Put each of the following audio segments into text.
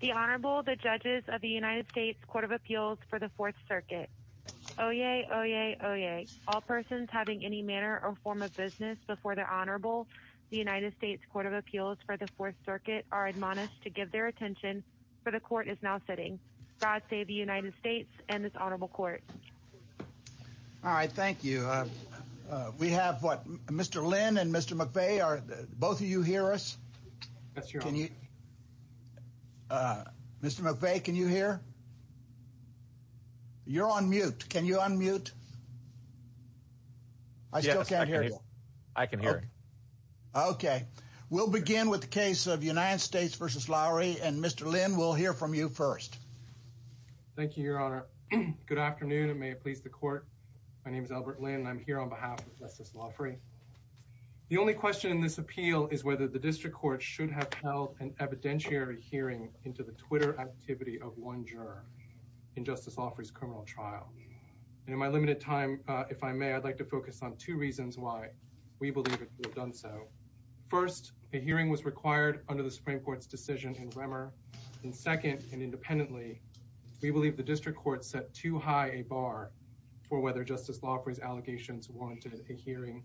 The Honorable, the Judges of the United States Court of Appeals for the Fourth Circuit. Oyez, oyez, oyez. All persons having any manner or form of business before the Honorable, the United States Court of Appeals for the Fourth Circuit are admonished to give their attention, for the Court is now sitting. God save the United States and this Honorable Court. All right, thank you. We have what, Mr. Lin and Mr. McVeigh, are, both of you hear us? Yes, Your Honor. Mr. McVeigh, can you hear? You're on mute. Can you unmute? I still can't hear you. Yes, I can hear. Okay. We'll begin with the case of United States v. Loughry, and Mr. Lin will hear from you first. Thank you, Your Honor. Good afternoon, and may it please the Court. My name is Albert Lin, and I'm here on behalf of Justice Loughry. The only question in this appeal is whether the District Court should have held an evidentiary hearing into the Twitter activity of one juror in Justice Loughry's criminal trial. In my limited time, if I may, I'd like to focus on two reasons why we believe it could have done so. First, a hearing was required under the Supreme Court's decision in Remmer, and second, and independently, we believe the District Court set too high a bar for whether Justice Loughry's allegations warranted a hearing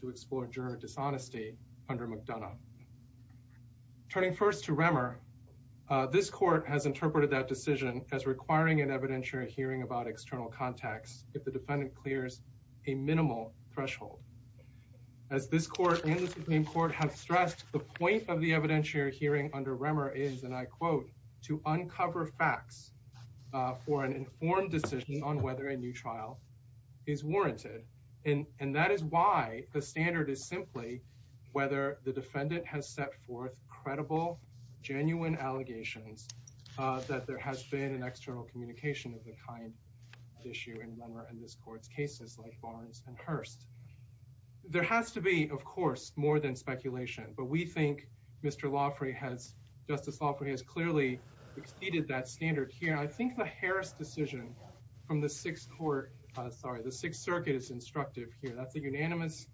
to explore juror dishonesty under McDonough. Turning first to Remmer, this Court has interpreted that decision as requiring an evidentiary hearing about external contacts if the defendant clears a minimal threshold. As this Court and the Supreme Court have stressed, the point of the evidentiary hearing under Remmer is, and I quote, to uncover facts for an informed decision on whether a new trial is warranted. And that is why the standard is simply whether the defendant has set forth credible, genuine allegations that there has been an external communication of the issue in Remmer and this Court's cases like Barnes and Hurst. There has to be, of course, more than speculation, but we think Justice Loughry has clearly exceeded that standard here. I think the Harris decision from the Sixth Circuit is instructive here. That's a unanimous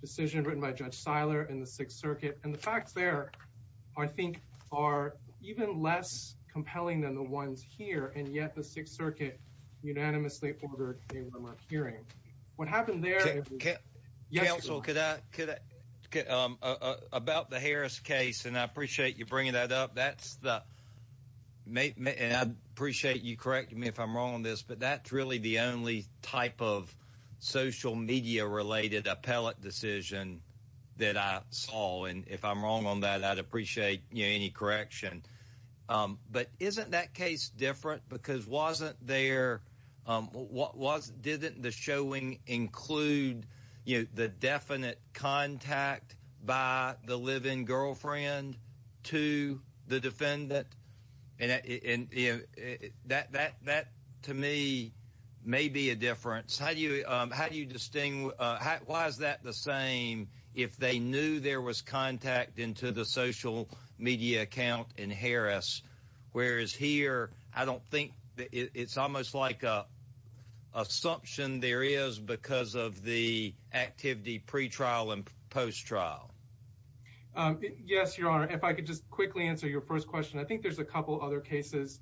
decision written by Judge Seiler in the Sixth Circuit, and the facts there, I think, are even less compelling than the ones here, and yet the Sixth Circuit unanimously ordered a Remmer hearing. What happened there... Counsel, could I...about the Harris case, and I appreciate you bringing that up, that's the... and I appreciate you correcting me if I'm wrong on this, but that's really the only type of social media-related appellate decision that I saw, and if I'm wrong on that, I'd appreciate any correction. But isn't that case different? Because wasn't there... didn't the showing include the definite contact by the live-in girlfriend to the defendant? And that, to me, may be a difference. How do you distinguish...why is that the same if they knew there was contact into the social media account in Harris? Whereas here, I don't think...it's almost like a assumption there is because of the activity pre-trial and post-trial. Yes, Your Honor, if I could just quickly answer your first question. I think there's a couple other cases.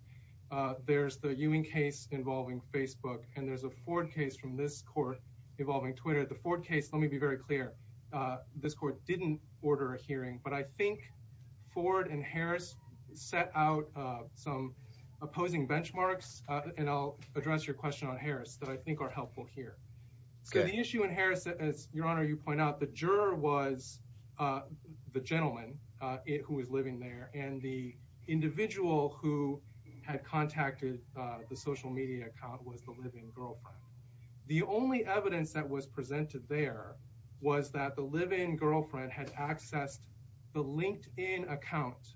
There's the Ewing case involving Facebook, and there's a Ford case from this court. I'll be very clear. This court didn't order a hearing, but I think Ford and Harris set out some opposing benchmarks, and I'll address your question on Harris that I think are helpful here. So the issue in Harris, as Your Honor, you point out, the juror was the gentleman who was living there, and the individual who had contacted the social media account was the live-in girlfriend. The only evidence that was presented there was that the live-in girlfriend had accessed the LinkedIn account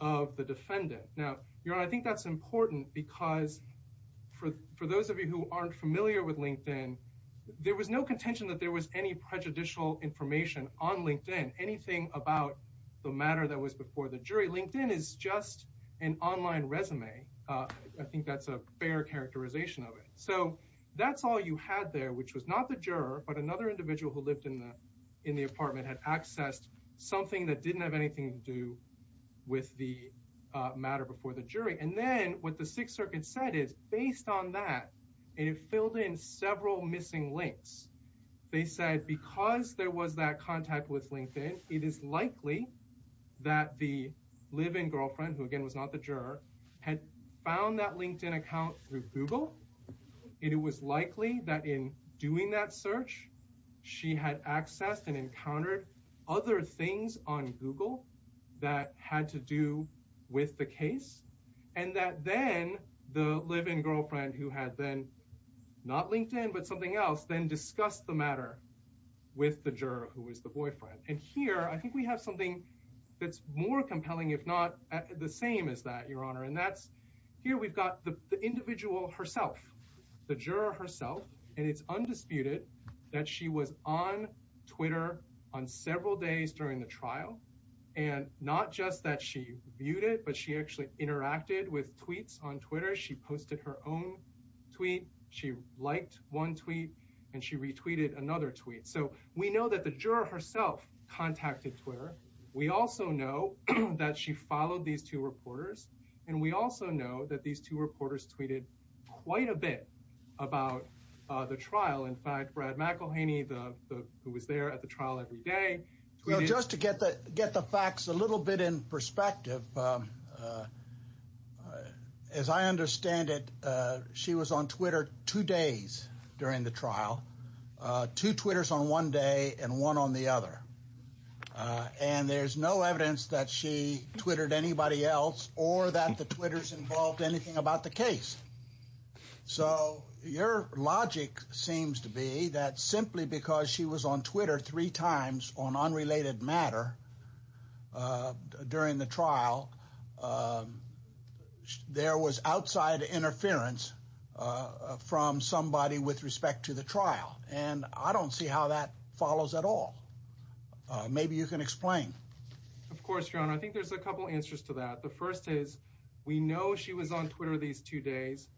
of the defendant. Now, Your Honor, I think that's important because for those of you who aren't familiar with LinkedIn, there was no contention that there was any prejudicial information on LinkedIn, anything about the matter that was before the jury. LinkedIn is just an online resume. I think that's a fair characterization of it. So that's all you had there, which was not the juror, but another individual who lived in the apartment had accessed something that didn't have anything to do with the matter before the jury. And then what the Sixth Circuit said is, based on that, it filled in several missing links. They said because there was that contact with LinkedIn, it is likely that the live-in girlfriend, who again was not the juror, had found that LinkedIn account through Google, and it was likely that in doing that search, she had accessed and encountered other things on Google that had to do with the case, and that then the live-in girlfriend, who had then not LinkedIn but something else, then discussed the matter with the juror, who was the boyfriend. And here, I think we have that's more compelling, if not the same as that, Your Honor. And here we've got the individual herself, the juror herself, and it's undisputed that she was on Twitter on several days during the trial, and not just that she viewed it, but she actually interacted with tweets on Twitter. She posted her own tweet, she liked one tweet, and she retweeted another tweet. So we know that the juror herself contacted Twitter. We also know that she followed these two reporters, and we also know that these two reporters tweeted quite a bit about the trial. In fact, Brad McElhaney, who was there at the trial every day, tweeted— Well, just to get the facts a little bit in perspective, as I understand it, she was on Twitter two days during the trial, two Twitters on one day and one on the other. And there's no evidence that she Twittered anybody else or that the Twitters involved anything about the case. So your logic seems to be that simply because she was on Twitter three times on unrelated matter during the trial, there was outside interference from somebody with respect to the trial. And I don't see how that follows at all. Maybe you can explain. Of course, John, I think there's a couple answers to that. The first is we know she was on Twitter these two days.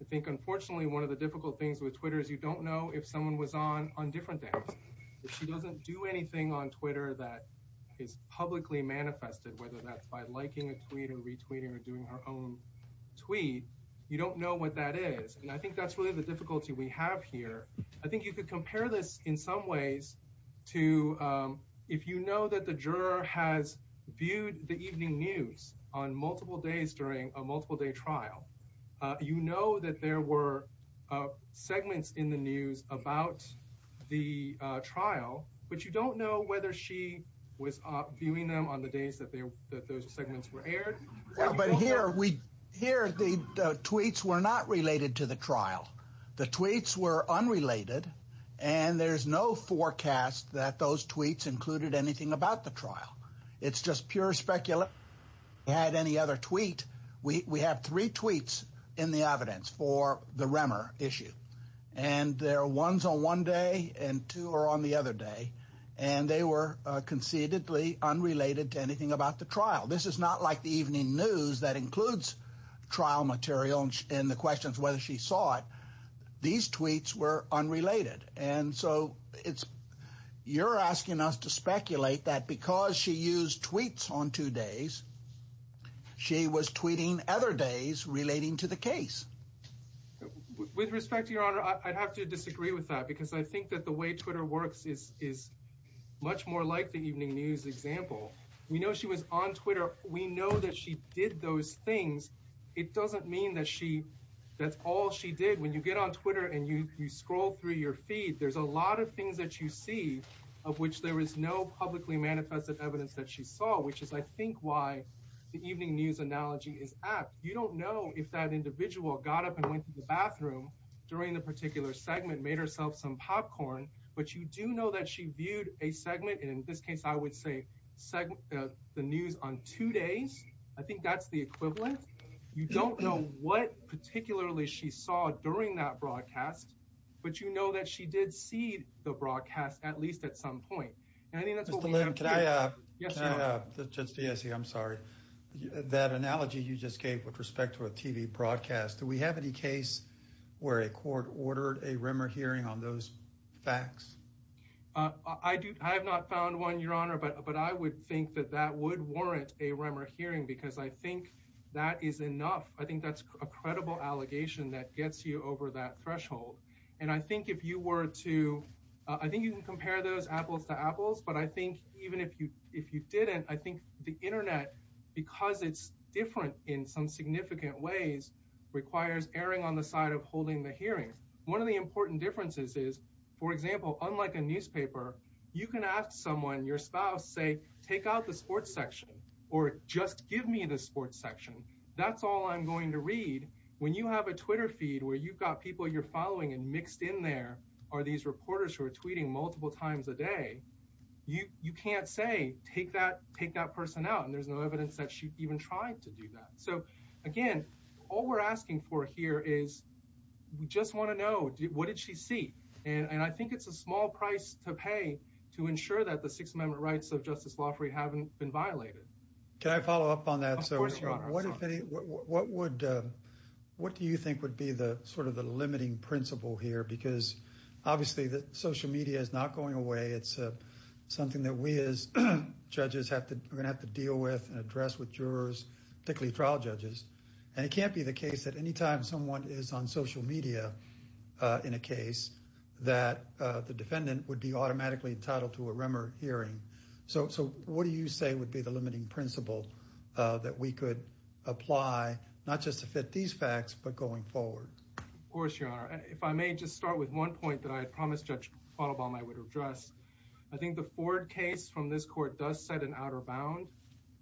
I think, unfortunately, one of the difficult things with Twitter is you don't know if someone was on on different days. If she doesn't do anything on Twitter that is publicly manifested, whether that's by liking a tweet or retweeting or doing her own tweet, you don't know what that is. And I think that's really the difficulty we have here. I think you could compare this in some ways to if you know that the juror has viewed the evening news on multiple days during a multiple day trial, you know that there were segments in the news about the trial, but you don't know whether she was viewing them on the days that those segments were aired. But here we hear the tweets were not related to the trial. The tweets were unrelated and there's no forecast that those tweets included anything about the trial. It's just pure specular. Had any other tweet. We have three tweets in the evidence for the Remmer issue and there are ones on one day and two are on the other day and they were concededly unrelated to anything about the trial. This is not like the evening news that includes trial material and the questions whether she saw it. These tweets were unrelated and so it's you're asking us to speculate that because she used tweets on two days, she was tweeting other days relating to the case. With respect to your honor, I'd have to disagree with that because I think that the way Twitter works is much more like the evening news example. We know she was on Twitter. We know that she did those things. It doesn't mean that she that's all she did. When you get on Twitter and you scroll through your feed, there's a lot of things that you see of which there is no publicly manifested evidence that she saw, which is I think why the evening news analogy is apt. You don't know if that individual got up and went to the bathroom during the particular segment, made herself some popcorn, but you do know that she viewed a segment and in this case I would say the news on two days. I think that's the equivalent. You don't know what particularly she saw during that broadcast, but you know that she did see the broadcast at least at some point and I think that's what we have to do. Mr. Lynn, can I just say, I'm sorry, that analogy you where a court ordered a rumor hearing on those facts? I have not found one, your honor, but I would think that that would warrant a rumor hearing because I think that is enough. I think that's a credible allegation that gets you over that threshold and I think if you were to, I think you can compare those apples to apples, but I think even if you if you didn't, I think the internet, because it's different in some significant ways, requires erring on the side of holding the hearing. One of the important differences is, for example, unlike a newspaper, you can ask someone, your spouse, say take out the sports section or just give me the sports section. That's all I'm going to read. When you have a Twitter feed where you've got people you're following and mixed in there are these reporters who are tweeting multiple times a day, you can't say take that person out and there's no evidence that she even tried to do that. So again, all we're asking for here is we just want to know, what did she see? And I think it's a small price to pay to ensure that the Sixth Amendment rights of Justice Loffrey haven't been violated. Can I follow up on that? Of course, your honor. What do you think would be the sort of the limiting principle here? Because obviously the social media is not going away. It's something that we as judges have to, have to deal with and address with jurors, particularly trial judges. And it can't be the case that anytime someone is on social media in a case that the defendant would be automatically entitled to a remer hearing. So what do you say would be the limiting principle that we could apply, not just to fit these facts, but going forward? Of course, your honor. If I may just start with one point that I had promised Judge Falabalm I would address. I think the Ford case from this outer bound,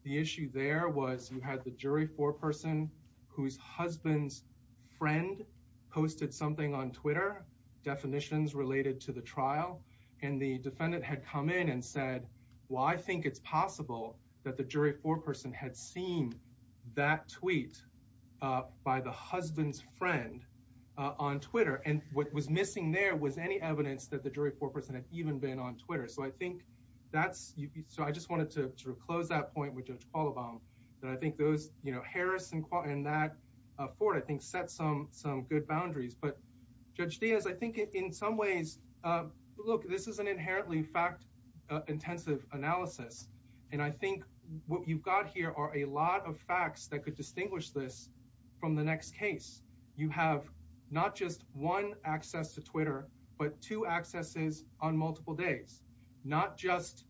the issue there was you had the jury foreperson whose husband's friend posted something on Twitter, definitions related to the trial. And the defendant had come in and said, well, I think it's possible that the jury foreperson had seen that tweet by the husband's friend on Twitter. And what was missing there was any evidence that the jury foreperson had even been on Twitter. So I think that's, so I just wanted to sort of close that point with Judge Falabalm that I think those, you know, Harris and that Ford, I think set some, some good boundaries. But Judge Diaz, I think in some ways, look, this is an inherently fact intensive analysis. And I think what you've got here are a lot of facts that could distinguish this from the next case. You have not just one access to Twitter, but two accesses on multiple days, not just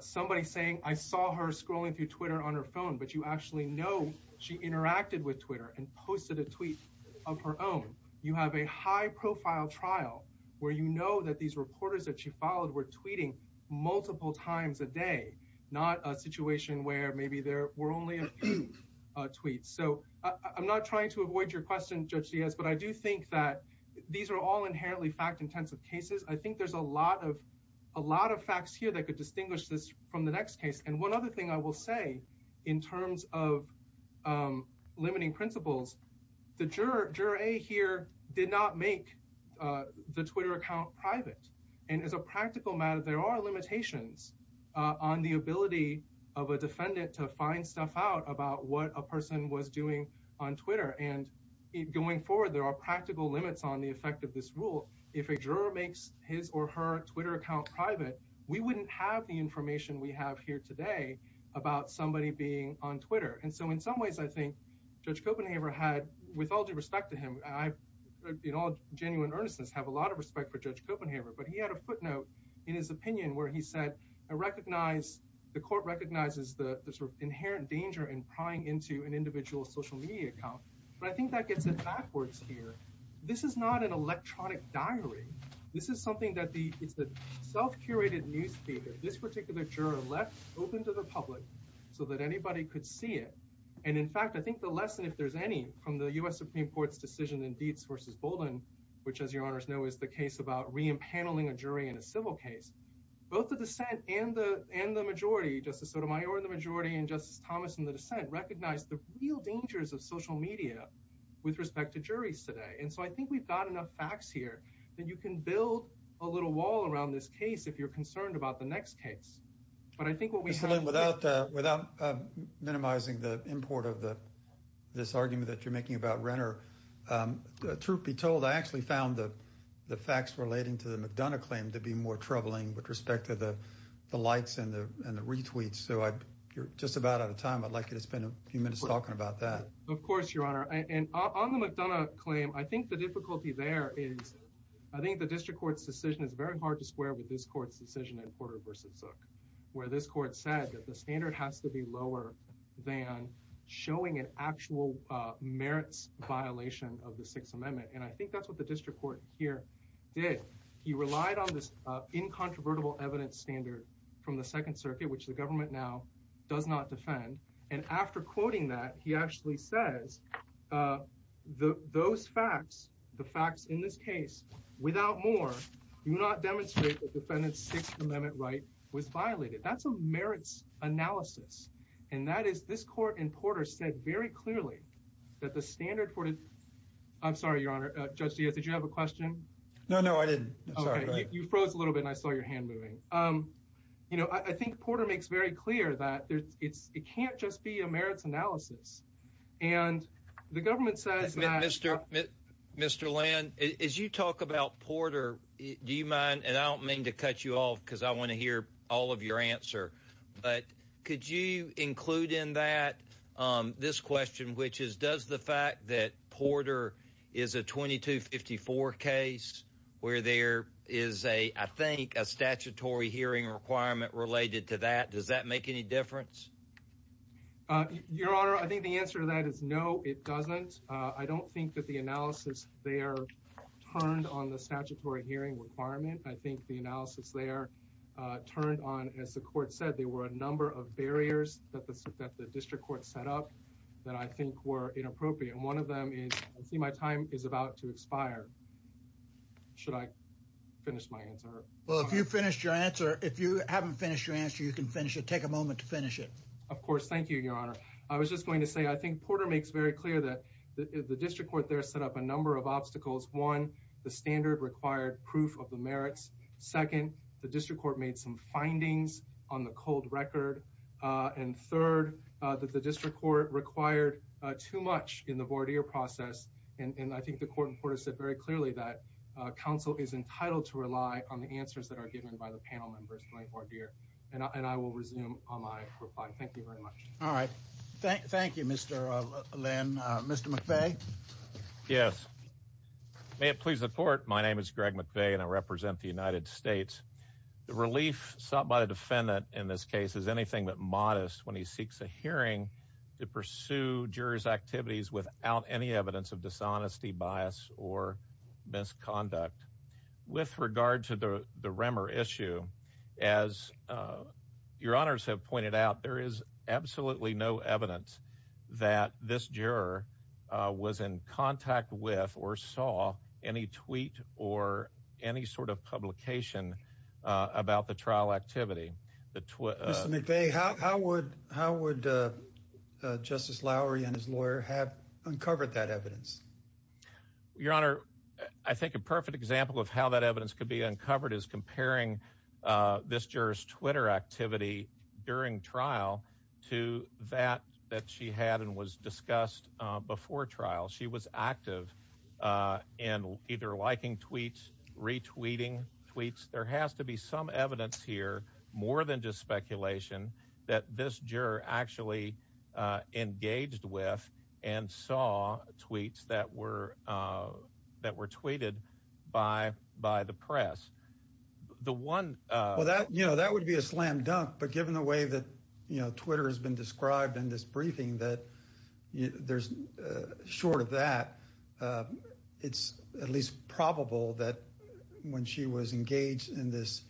somebody saying, I saw her scrolling through Twitter on her phone, but you actually know she interacted with Twitter and posted a tweet of her own. You have a high profile trial where you know that these reporters that she followed were tweeting multiple times a day, not a situation where maybe there were only a few tweets. So I'm not trying to avoid your question, Judge Diaz, but I do think that these are all inherently fact intensive cases. I think there's a lot of, a lot of facts here that could distinguish this from the next case. And one other thing I will say in terms of limiting principles, the juror, juror A here did not make the Twitter account private. And as a practical matter, there are limitations on the ability of a defendant to find stuff out about what a person was doing on Twitter. And going forward, there are practical limits on the effect of this rule. If a juror makes his or her Twitter account private, we wouldn't have the information we have here today about somebody being on Twitter. And so in some ways, I think Judge Copenhaver had, with all due respect to him, I, in all genuine earnestness, have a lot of respect for Judge Copenhaver, but he had a footnote in his opinion where he said, I recognize, the court recognizes the sort of inherent danger in prying into an individual's social media account. But I think that gets it backwards here. This is not an electronic diary. This is something that the, it's a self-curated newspaper. This particular juror left open to the public so that anybody could see it. And in fact, I think the lesson, if there's any, from the U.S. Supreme Court's decision in Dietz v. Bolden, which, as your honors know, is the case about re-impaneling a jury in a civil case, both the dissent and the majority, Justice Sotomayor in the majority and Justice Thomas in the dissent, recognized the real dangers of social media with respect to juries today. And so I think we've got enough facts here that you can build a little wall around this case if you're concerned about the next case. But I think what we have- Without minimizing the import of this argument that you're making about Renner, truth be told, I actually found the facts relating to the McDonough claim to be more troubling with respect to the likes and the retweets. So you're just about out of time. I'd like you to spend a few minutes talking about that. Of course, your honor. And on the McDonough claim, I think the difficulty there is, I think the district court's decision is very hard to square with this court's decision in Porter v. Zook, where this court said that the standard has to be lower than showing an actual merits violation of the Sixth Amendment. And I think that's what the district court here did. He relied on this incontrovertible evidence standard from the Second Circuit, which the government now does not defend. And after quoting that, he actually says that those facts, the facts in this case, without more, do not demonstrate that defendant's Sixth Amendment right was violated. That's a merits analysis. And that is, this court in Porter said very clearly that the standard for- I'm sorry, your honor. Judge Diaz, did you have a question? No, no, I didn't. I'm sorry. You froze a little bit and I saw your hand moving. You know, I think Porter makes very clear that it can't just be a merits analysis. And the government says that- Mr. Land, as you talk about Porter, do you mind, and I don't mean to cut you off because I want to hear all of your answer, but could you include in that this question, which is, does the fact that Porter is a 2254 case where there is a, I think, a statutory hearing requirement related to that, does that make any difference? Your honor, I think the answer to that is no, it doesn't. I don't think that the analysis there turned on the statutory hearing requirement. I think the analysis there turned on, as the court said, there were a number of barriers that the district court set up that I think were inappropriate. And one of them is, I see my time is about to expire. Should I finish my answer? Well, if you finished your answer, if you haven't finished your answer, you can finish it. Take a break. Of course. Thank you, your honor. I was just going to say, I think Porter makes very clear that the district court there set up a number of obstacles. One, the standard required proof of the merits. Second, the district court made some findings on the cold record. And third, that the district court required too much in the voir dire process. And I think the court in Porter said very clearly that counsel is entitled to rely on the answers that are given by the panel members in the voir dire. And I will resume on my reply. Thank you very much. All right. Thank you, Mr. Lynn. Mr. McVeigh? Yes. May it please the court, my name is Greg McVeigh and I represent the United States. The relief sought by the defendant in this case is anything but modest when he seeks a hearing to pursue jurors' activities without any evidence of dishonesty, bias, or misconduct. With regard to the Remmer issue, as your honors have pointed out, there is absolutely no evidence that this juror was in contact with or saw any tweet or any sort of publication about the trial activity. Mr. McVeigh, how would Justice Lowery and his lawyer have Your honor, I think a perfect example of how that evidence could be uncovered is comparing this juror's Twitter activity during trial to that that she had and was discussed before trial. She was active in either liking tweets, retweeting tweets. There has to be some evidence here, more than just speculation, that this juror actually engaged with and saw tweets that were tweeted by the press. The one... Well, that would be a slam dunk, but given the way that Twitter has been described in this briefing, that short of that, it's at least probable that when she was engaged in this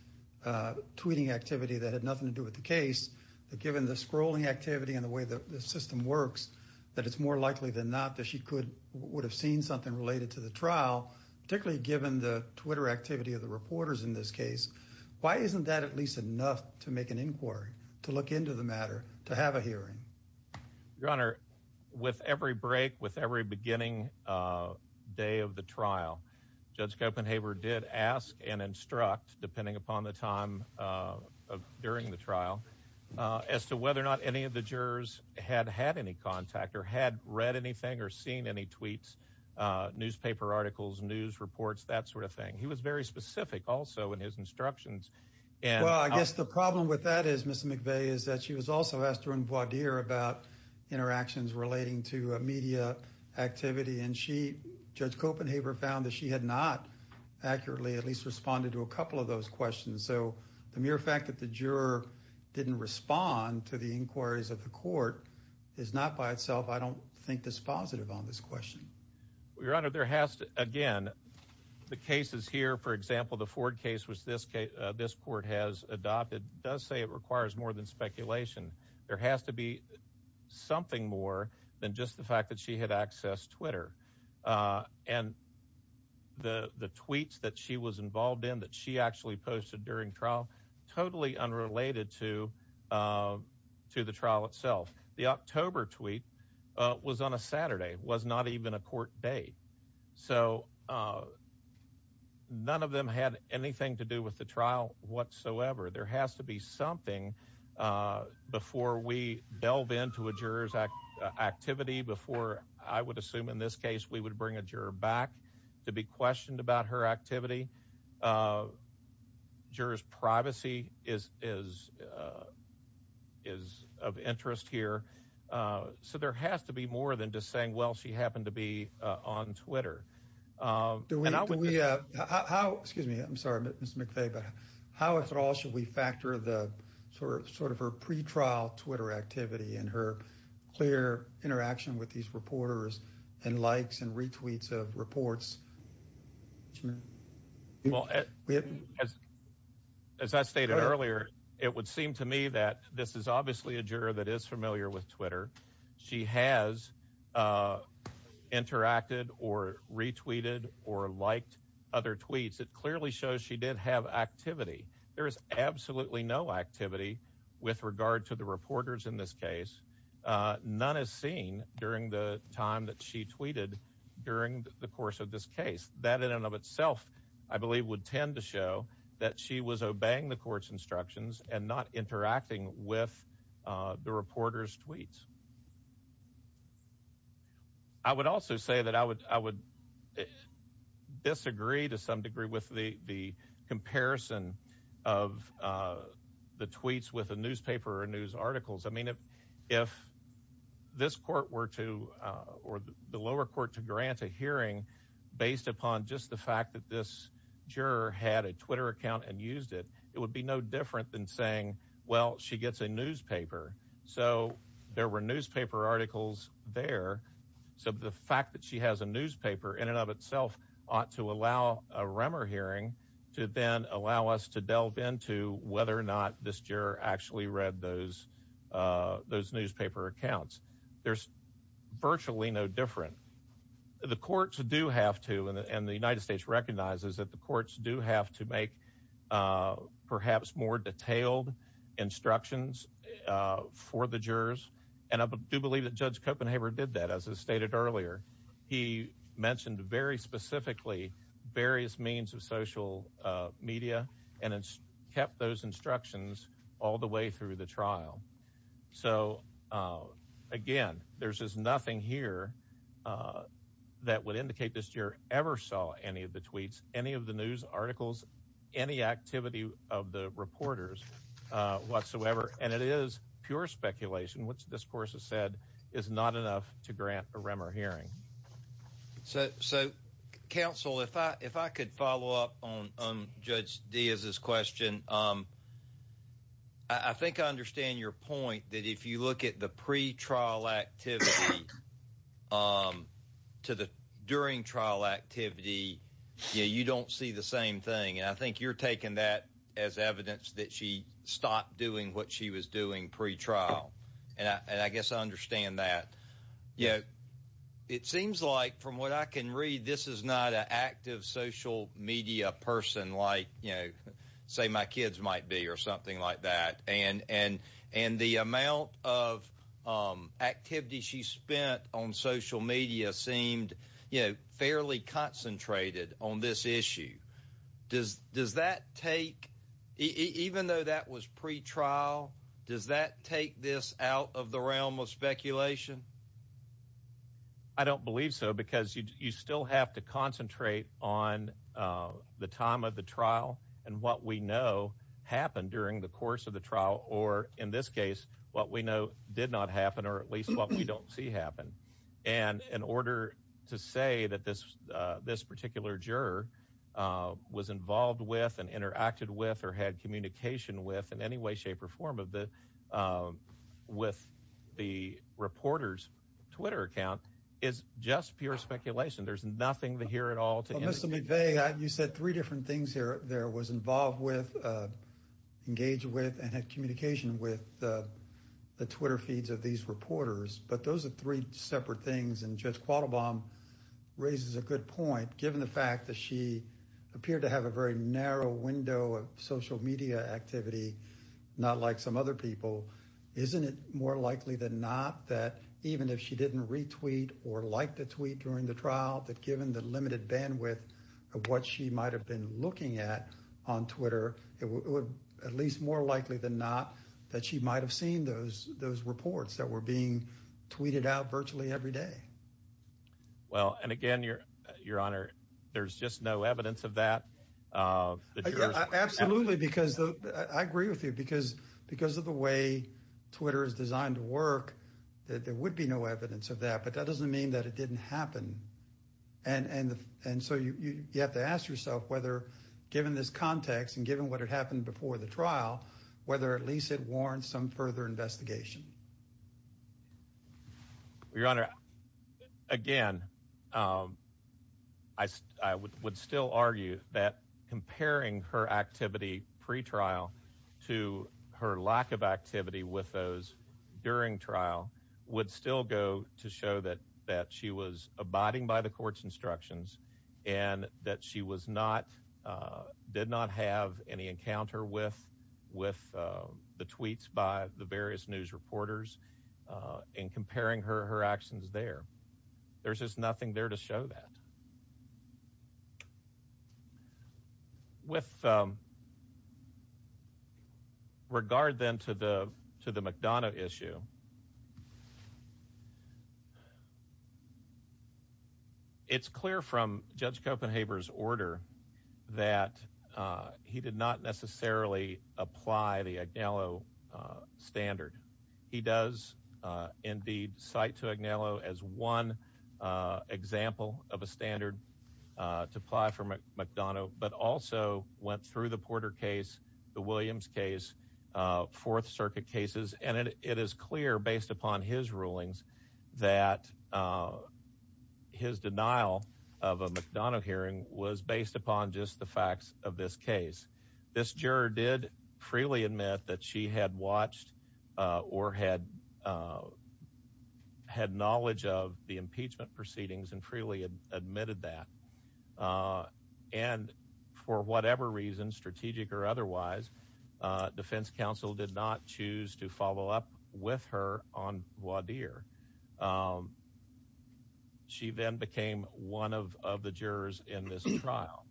tweeting activity that had nothing to do with the case, that given the scrolling activity and the way the system works, that it's more likely than not that she would have seen something related to the trial, particularly given the Twitter activity of the reporters in this case. Why isn't that at least enough to make an inquiry, to look into the matter, to have a hearing? Your honor, with every break, with every beginning day of the trial, Judge Copenhaver did ask and instruct, depending upon the time during the trial, as to whether or not any of the jurors had had any contact or had read anything or seen any tweets, newspaper articles, news reports, that sort of thing. He was very specific, also, in his instructions. Well, I guess the problem with that is, Mr. McVeigh, is that she was also asked to respond. She had not accurately at least responded to a couple of those questions. So, the mere fact that the juror didn't respond to the inquiries of the court is not by itself, I don't think, dispositive on this question. Your honor, there has to, again, the cases here, for example, the Ford case, which this court has adopted, does say it requires more than speculation. There has to be something more than just the fact that she had accessed Twitter. And the tweets that she was involved in, that she actually posted during trial, totally unrelated to the trial itself. The October tweet was on a Saturday, was not even a court date. So, none of them had anything to do with the trial whatsoever. There has to be something before we delve into a juror's activity, before, I would assume, in this case, we would bring a juror back to be questioned about her activity. Juror's privacy is of interest here. So, there has to be more than just saying, well, she happened to be on Twitter. Do we, how, excuse me, I'm sorry, Mr. McVeigh, but how at all should we factor the sort of her pre-trial Twitter activity and her clear interaction with these reporters and likes and retweets of reports? Well, as I stated earlier, it would seem to me that this is or liked other tweets. It clearly shows she did have activity. There is absolutely no activity with regard to the reporters in this case. None is seen during the time that she tweeted during the course of this case. That in and of itself, I believe, would tend to show that she was obeying the court's instructions and not interacting with the reporter's tweets. I would also say that I would, I would disagree to some degree with the comparison of the tweets with a newspaper or news articles. I mean, if this court were to, or the lower court, to grant a hearing based upon just the fact that this juror had a Twitter account and used it, it would be no articles there. So the fact that she has a newspaper in and of itself ought to allow a Remmer hearing to then allow us to delve into whether or not this juror actually read those, those newspaper accounts. There's virtually no different. The courts do have to, and the United States recognizes that the courts do have to make perhaps more detailed instructions for the jurors and I do believe that Judge Copenhaver did that. As I stated earlier, he mentioned very specifically various means of social media and it's kept those instructions all the way through the trial. So again, there's just nothing here that would indicate this juror ever saw any of the tweets, any of the news articles, any activity of the reporters whatsoever. And it is pure speculation, which this court has said is not enough to grant a Remmer hearing. So counsel, if I could follow up on Judge Diaz's question. I think I understand your point that if you look at the pre-trial activity to the during trial activity, you don't see the same thing. And I think you're taking that as evidence that she stopped doing what she was doing pre-trial. And I guess I understand that. You know, it seems like from what I can read, this is not an active social media person like, you know, say my kids might be or something like that. And the amount of activity she spent on social media seemed, you know, fairly concentrated on this issue. Does that take, even though that was pre-trial, does that take this out of the realm of speculation? I don't believe so because you still have to concentrate on the time of the trial and what we know happened during the course of the trial or in this case, what we know did not happen or at And in order to say that this particular juror was involved with and interacted with or had communication with in any way, shape, or form of the, with the reporter's Twitter account is just pure speculation. There's nothing here at all. Mr. McVeigh, you said three different things here there was involved with, engaged with, and had communication with the Twitter feeds of these separate things. And Judge Quattlebaum raises a good point, given the fact that she appeared to have a very narrow window of social media activity, not like some other people. Isn't it more likely than not that even if she didn't retweet or like the tweet during the trial, that given the limited bandwidth of what she might've been looking at on Twitter, it would at least more likely than not that she might've seen those, those reports that were being tweeted out virtually every day. Well, and again, your, your honor, there's just no evidence of that. Absolutely, because I agree with you because, because of the way Twitter is designed to work, there would be no evidence of that, but that doesn't mean that it didn't happen. And, and, and so you, you, you have to ask yourself whether given this context and given what had happened before the trial, whether at least it warrants some further investigation. Your honor, again, I, I would, would still argue that comparing her activity pre-trial to her lack of activity with those during trial would still go to show that, that she was abiding by the encounter with, with the tweets by the various news reporters and comparing her, her actions there. There's just nothing there to show that. With regard then to the, to the McDonough issue, it's clear from Judge Copenhaver's order that he did not necessarily apply the Agnello standard. He does indeed cite to Agnello as one example of a standard to apply for McDonough, but also went through the Porter case, the Williams case, Fourth Circuit cases, and it is clear based upon his rulings that his denial of a McDonough hearing was based upon just the facts of this case. This juror did freely admit that she had watched or had, had knowledge of the impeachment proceedings and freely admitted that. And for whatever reason, strategic or otherwise, defense counsel did not choose to follow up with her on Wadeer. She then became one of, of the jurors in this trial.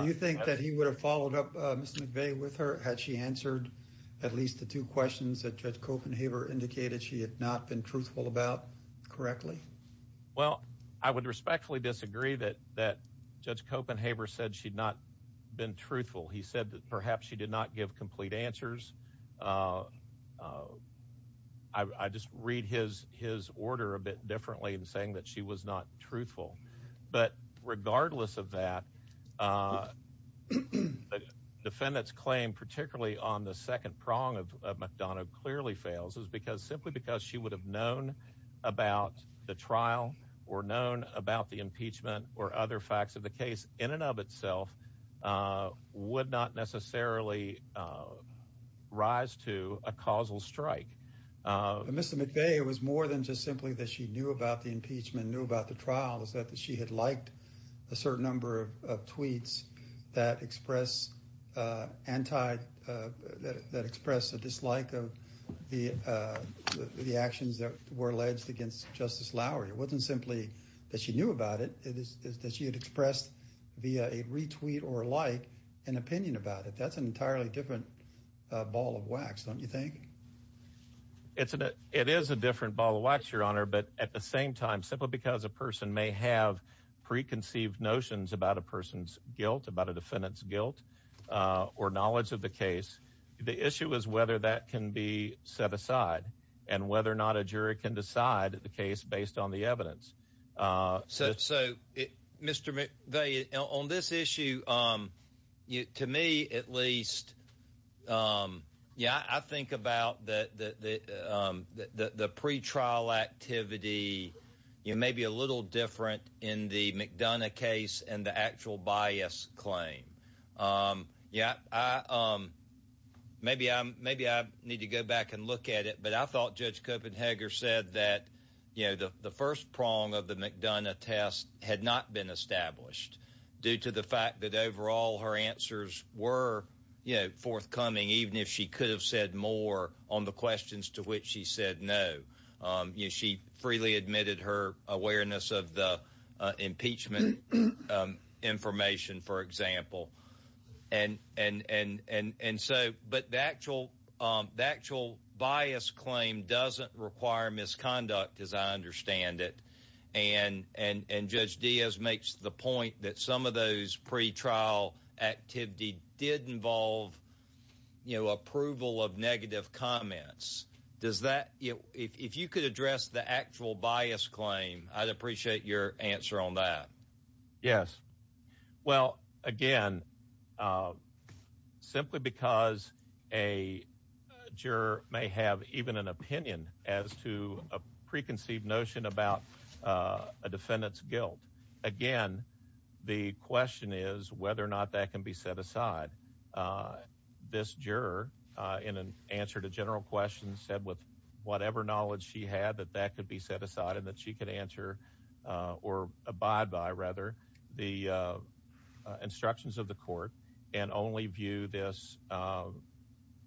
Do you think that he would have followed up Ms. McVeigh with her had she answered at least the two questions that Judge Copenhaver indicated she had not been truthful about correctly? Well, I would respectfully disagree that, that Judge Copenhaver said she'd not been truthful. He said that perhaps she did not give complete answers. I, I just read his, his order a bit differently in saying that she was not truthful. But regardless of that, the defendant's claim particularly on the second prong of McDonough clearly fails is simply because she would have known about the trial or known about the impeachment or other facts of the case in and of itself would not necessarily rise to a causal strike. Mr. McVeigh, it was more than just simply that she knew about the impeachment, knew about the trial, is that she had liked a certain number of tweets that express anti, that express a dislike of the, the actions that were alleged against Justice Lowery. It wasn't simply that she knew about it, it is that she had expressed via a retweet or a like an opinion about it. That's an entirely different ball of wax, don't you think? It's a, it is a different ball of wax, Your Honor, but at the same time, simply because a person may have preconceived notions about a person's guilt, about a defendant's guilt or knowledge of the case, the issue is whether that can be set aside and whether or not a jury can decide the case based on the evidence. So, Mr. McVeigh, on this issue, to me at least, yeah, I think about the pre-trial activity, you know, maybe a little different in the McDonough case and the actual bias claim. Yeah, I, maybe I'm, maybe I need to go back and look at it, but I thought Judge Copenhager said that, you know, the first prong of the McDonough test had not been established due to the fact that overall her answers were, you know, forthcoming, even if she could have said more on the questions to which she said no. You know, she freely admitted her awareness of the impeachment information, for example, and so, but the actual bias claim doesn't require misconduct, as I understand it, and Judge Diaz makes the point that some of those pre-trial activity did involve, you know, approval of negative comments. Does that, if you could address the actual bias claim, I'd appreciate your answer on that. Yes. Well, again, simply because a juror may have even an opinion as to a preconceived notion about a defendant's guilt, again, the question is whether or not that can be set aside. This juror, in an answer to general questions, said with whatever knowledge she had that that could be set aside and that she could answer or abide by, rather, the instructions of the court and only view this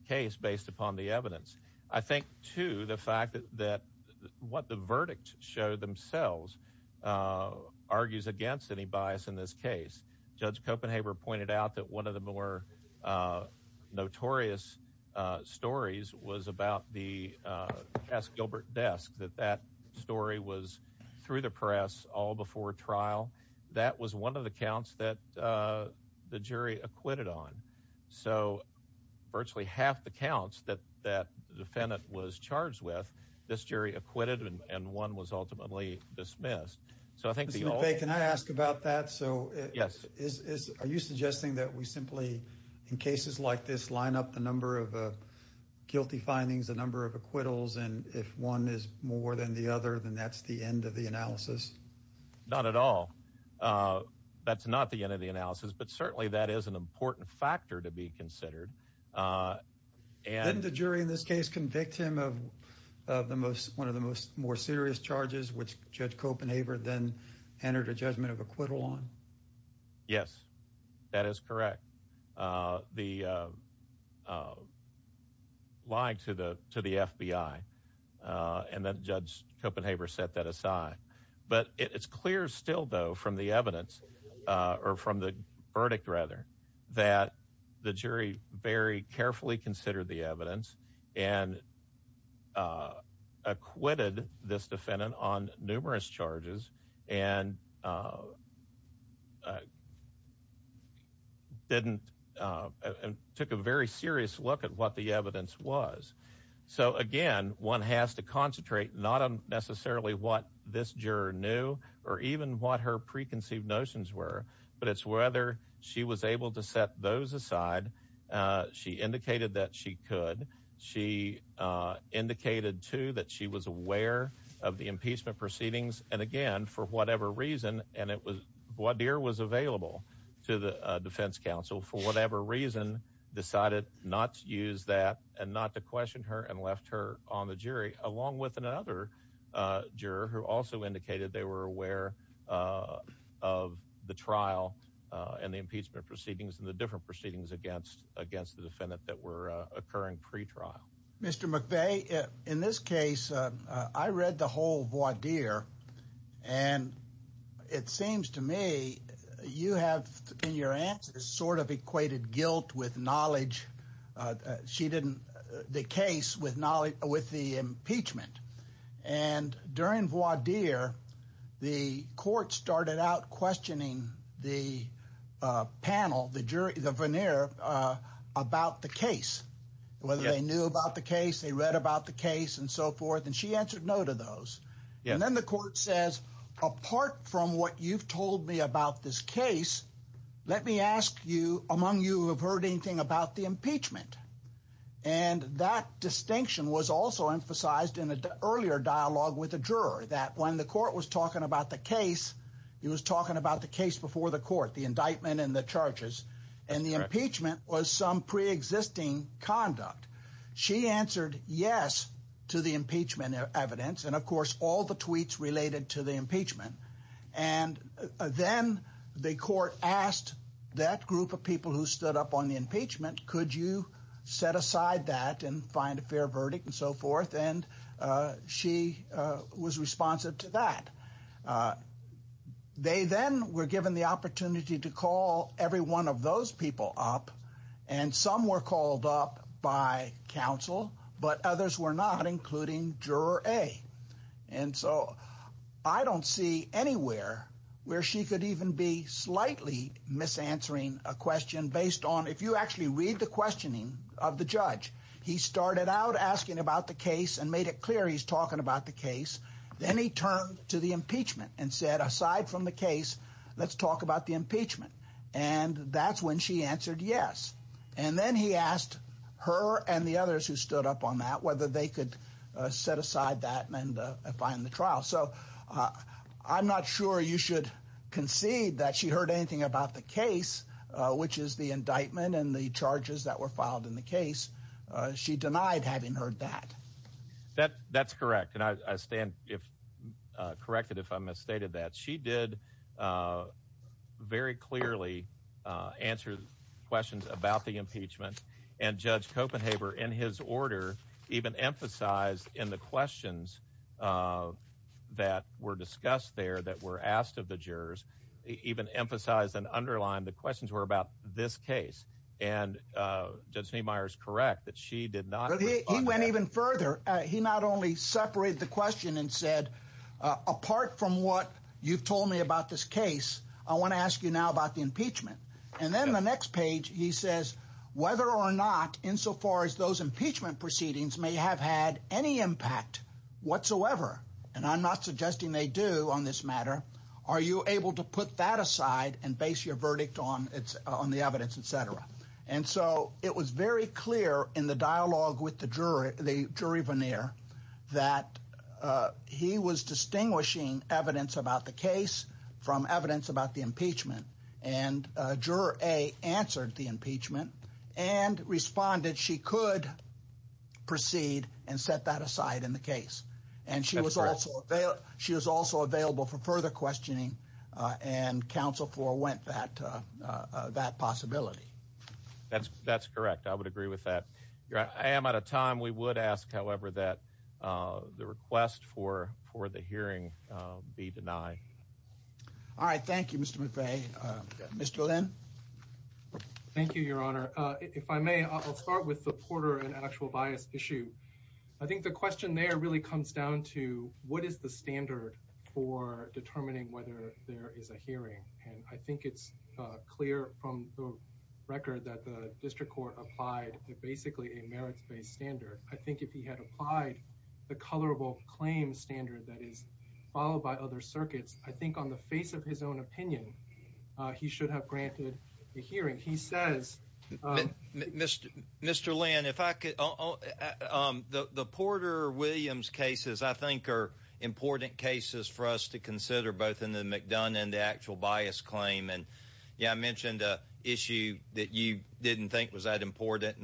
case based upon the evidence. I think, too, the fact that what the verdicts show themselves argues against any bias in this case. Judge Copenhager pointed out that one of the more notorious stories was about the Cass Gilbert desk, that that story was through the press all before trial. That was one of the counts that the jury acquitted on. So, virtually half the counts that that defendant was charged with, this jury acquitted and one was ultimately dismissed. So, I think, Mr. McVeigh, can I ask about that? So, yes. Are you suggesting that we simply, in cases like this, line up the number of guilty findings, the number of acquittals, and if one is more than the other, then that's the end of the analysis? Not at all. That's not the end of the analysis, but certainly that is an important factor to be considered. Didn't the jury in this case convict him of one of the most more serious charges, which Judge Copenhager then entered a judgment of acquittal on? Yes, that is correct. The lying to the FBI, and then Judge Copenhager set that aside. But it's clear still, though, from the evidence, or from the verdict rather, that the jury very carefully considered the evidence and acquitted this defendant on numerous charges and didn't, took a very serious look at what the evidence was. So, again, one has to concentrate not on necessarily what this juror knew or even what her preconceived notions were, but it's whether she was able to set those aside. She indicated that she could. She indicated, too, that she was aware of the impeachment proceedings, and again, for whatever reason, and it was, voir dire was available to the defense counsel, for whatever reason, decided not to use that and not to question her and left her on the jury, along with another juror who also indicated they were aware of the trial and the impeachment proceedings and the different proceedings against the defendant that were occurring pre-trial. Mr. McVeigh, in this case, I read the whole voir dire, and it seems to me you have, in your answers, sort of equated guilt with knowledge. She didn't, the case with knowledge, with the impeachment, and during voir dire, the court started out questioning the panel, the jury, the veneer about the case, whether they knew about the case, they read about the case and so forth, and she answered no to those. And then the court says, apart from what you've told me about this case, let me ask you, among you, have heard anything about the impeachment? And that distinction was also emphasized in an earlier dialogue with a juror, that when the court was talking about the case, he was talking about the case before the court, the indictment and the charges, and the impeachment was some pre-existing conduct. She answered yes to the impeachment evidence, and of course, all the tweets related to the impeachment. And then the court asked that group of people who stood up on the impeachment, could you set aside that and find a fair verdict and so forth, and she was responsive to that. They then were given the opportunity to call every one of those people up, and some were called up by counsel, but others were not, including juror A. And so I don't see anywhere where she could even be slightly mis-answering a question based on, if you actually read the questioning of the judge, he started out asking about the case and made it clear he's talking about the case. Then he turned to the impeachment and said, aside from the case, let's talk about the impeachment. And that's when she stood up on that, whether they could set aside that and find the trial. So I'm not sure you should concede that she heard anything about the case, which is the indictment and the charges that were filed in the case. She denied having heard that. That's correct, and I stand if corrected if I misstated that. She did very clearly answer questions about the impeachment, and Judge Kopenhaber, in his order, even emphasized in the questions that were discussed there that were asked of the jurors, even emphasized and underlined the questions were about this case. And Judge Niemeyer is correct that she did not. He went even further. He not only separated the question and said, apart from what you've told me about this case, I want to ask you about the impeachment. And then the next page he says, whether or not, insofar as those impeachment proceedings may have had any impact whatsoever, and I'm not suggesting they do on this matter, are you able to put that aside and base your verdict on the evidence, et cetera. And so it was very clear in the dialogue with the jury, the jury veneer, that he was and juror A answered the impeachment and responded she could proceed and set that aside in the case. And she was also available for further questioning and counsel forwent that possibility. That's correct. I would agree with that. I am out of time. We would ask, however, that the request for the hearing be denied. All right. Thank you, Mr. McVeigh. Mr. Lin. Thank you, Your Honor. If I may, I'll start with the Porter and actual bias issue. I think the question there really comes down to what is the standard for determining whether there is a hearing. And I think it's clear from the record that the district court applied basically a merits-based standard. I think if he had applied the colorable claim standard that is followed by other circuits, I think on the face of his own opinion, he should have granted the hearing. He says. Mr. Lin, if I could. The Porter-Williams cases, I think, are important cases for us to consider both in the McDonough and the actual bias claim. Yeah, I mentioned an issue that you didn't think was that important,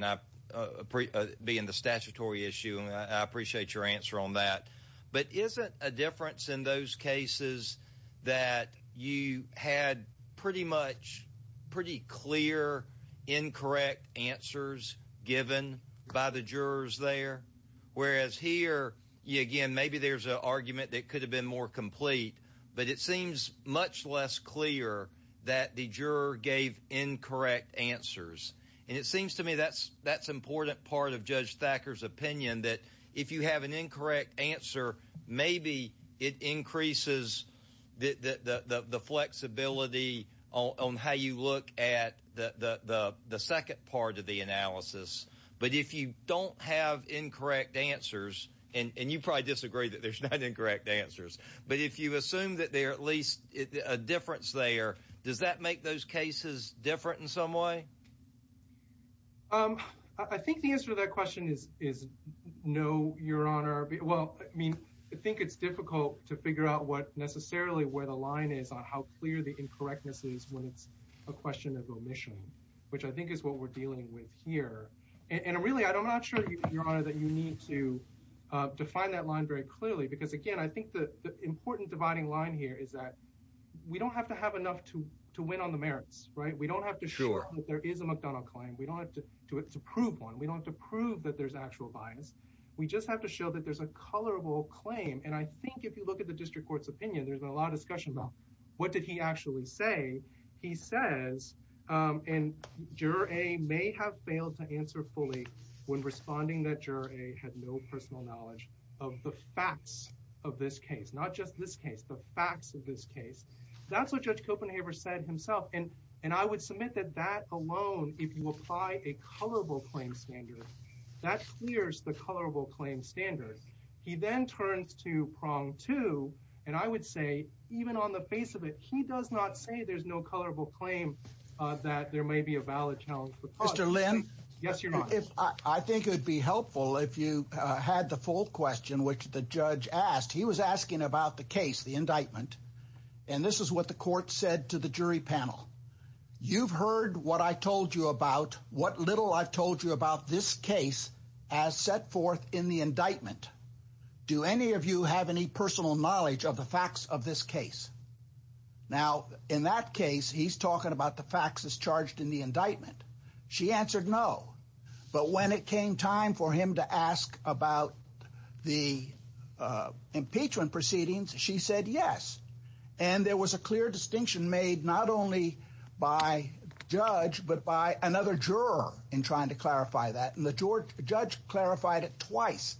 being the statutory issue. I appreciate your answer on that. But isn't a difference in those cases that you had pretty much pretty clear, incorrect answers given by the jurors there? Whereas here, again, maybe there's an argument that could have been more complete, but it seems much less clear that the juror gave incorrect answers. And it seems to me that's important part of Judge Thacker's opinion, that if you have an incorrect answer, maybe it increases the flexibility on how you look at the second part of the analysis. But if you don't have incorrect answers, and you probably disagree that there's not incorrect answers, but if you assume that there are at least a difference there, does that make those cases different in some way? I think the answer to that question is no, Your Honor. Well, I mean, I think it's difficult to figure out what necessarily where the line is on how clear the incorrectness is when it's a question of omission, which I think is what we're dealing with here. And really, I'm not sure, Your Honor, that you need to define that line very clearly, because again, I think the important dividing line here is that we don't have to have enough to win on the merits, right? We don't have to show that there is a McDonnell claim. We don't have to prove one. We don't have to prove that there's actual bias. We just have to show that there's a colorable claim. And I think if you look at the district court's opinion, there's been a lot of discussion about what did he actually say. He says, and Juror A may have of this case, not just this case, the facts of this case. That's what Judge Copenhaver said himself. And I would submit that that alone, if you apply a colorable claim standard, that clears the colorable claim standard. He then turns to prong two. And I would say, even on the face of it, he does not say there's no colorable claim that there may be a valid challenge. Mr. Lynn? Yes, Your Honor. I think it would be helpful if you had the full question, which the judge asked. He was asking about the case, the indictment. And this is what the court said to the jury panel. You've heard what I told you about what little I've told you about this case as set forth in the indictment. Do any of you have any personal knowledge of the facts of this case? Now, in that case, he's talking about the facts that's charged in the indictment. She answered no. But when it came time for him to ask about the impeachment proceedings, she said yes. And there was a clear distinction made not only by judge but by another juror in trying to clarify that. And the judge clarified it twice.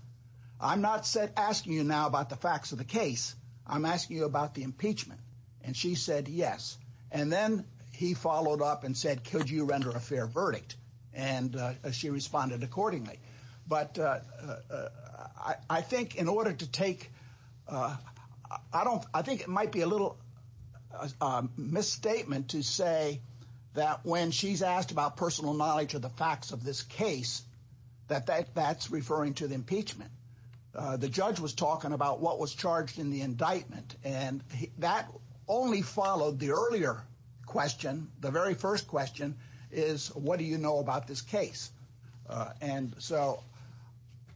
I'm not asking you now about the facts of the case. I'm asking you about the impeachment. And she said yes. And then he followed up and said, could you render a fair verdict? And she responded accordingly. But I think in order to take, I don't, I think it might be a little misstatement to say that when she's asked about personal knowledge of the facts of this case, that that's referring to the impeachment. The judge was talking about what was charged in the indictment. And that only followed the earlier question, the very first question, is what do you know about this case? And so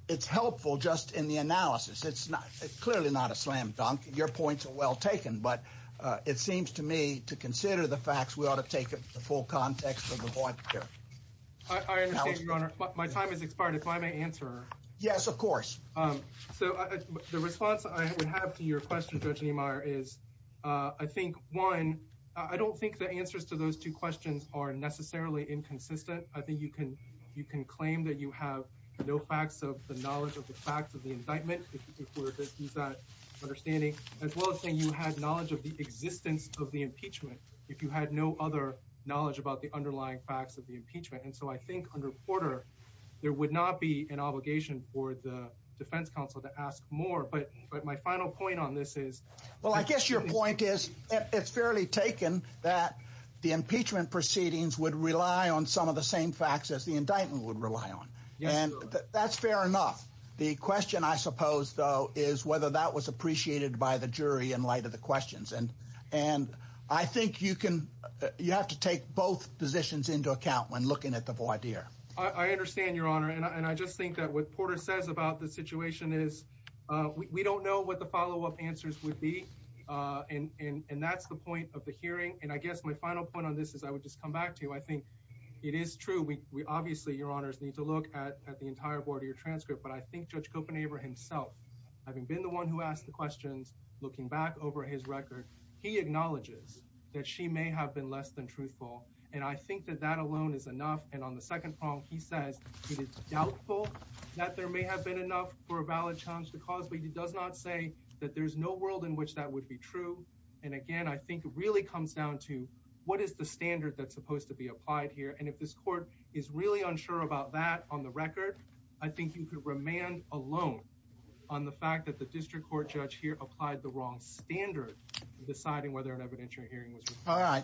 it's helpful just in the analysis. It's not, it's clearly not a slam dunk. Your points are well taken. But it seems to me to consider the facts, we ought to take the full context of the point here. I understand, Your Honor. My time has expired. If I may answer. Yes, of course. So the response I would have to your question, Judge Niemeyer, is I think, one, I don't think the answers to those two questions are necessarily inconsistent. I think you can, you can claim that you have no facts of the knowledge of the facts of the indictment, if we're to use that understanding, as well as saying you had knowledge of the existence of the impeachment, if you had no other knowledge about the underlying facts of the impeachment. And so I think under Porter, there would not be an obligation for the defense counsel to ask more. But my final point on this is, well, I guess your point is, it's fairly taken that the impeachment proceedings would rely on some of the same facts as the indictment would rely on. And that's fair enough. The question, I suppose, though, is whether that was appreciated by the jury in light of the questions. And, and I think you can, you have to take both positions into account when looking at the indictment. I understand, Your Honor. And I just think that what Porter says about the situation is, we don't know what the follow-up answers would be. And that's the point of the hearing. And I guess my final point on this is, I would just come back to you. I think it is true. We obviously, Your Honors, need to look at the entire board of your transcript. But I think Judge Kopenhaver himself, having been the one who asked the questions, looking back over his record, he acknowledges that she may have been less than truthful. And I think that that alone is enough. And on the second prong, he says that it's doubtful that there may have been enough for a valid challenge to cause. But he does not say that there's no world in which that would be true. And again, I think it really comes down to what is the standard that's supposed to be applied here. And if this court is really unsure about that on the record, I think you could remand alone on the fact that the district court judge here applied the wrong standard in deciding whether an evidentiary hearing was required. All right.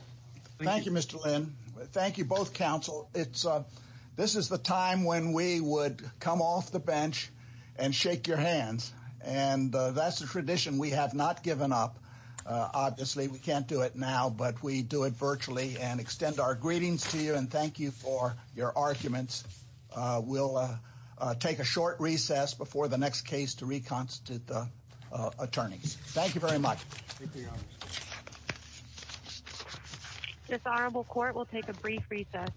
Thank you, Mr. Lynn. Thank you, both counsel. This is the time when we would come off the bench and shake your hands. And that's a tradition we have not given up. Obviously, we can't do it now, but we do it virtually and extend our greetings to you. And thank you for your arguments. We'll take a short recess before the next case to reconstitute attorneys. Thank you very much. This honorable court will take a brief recess.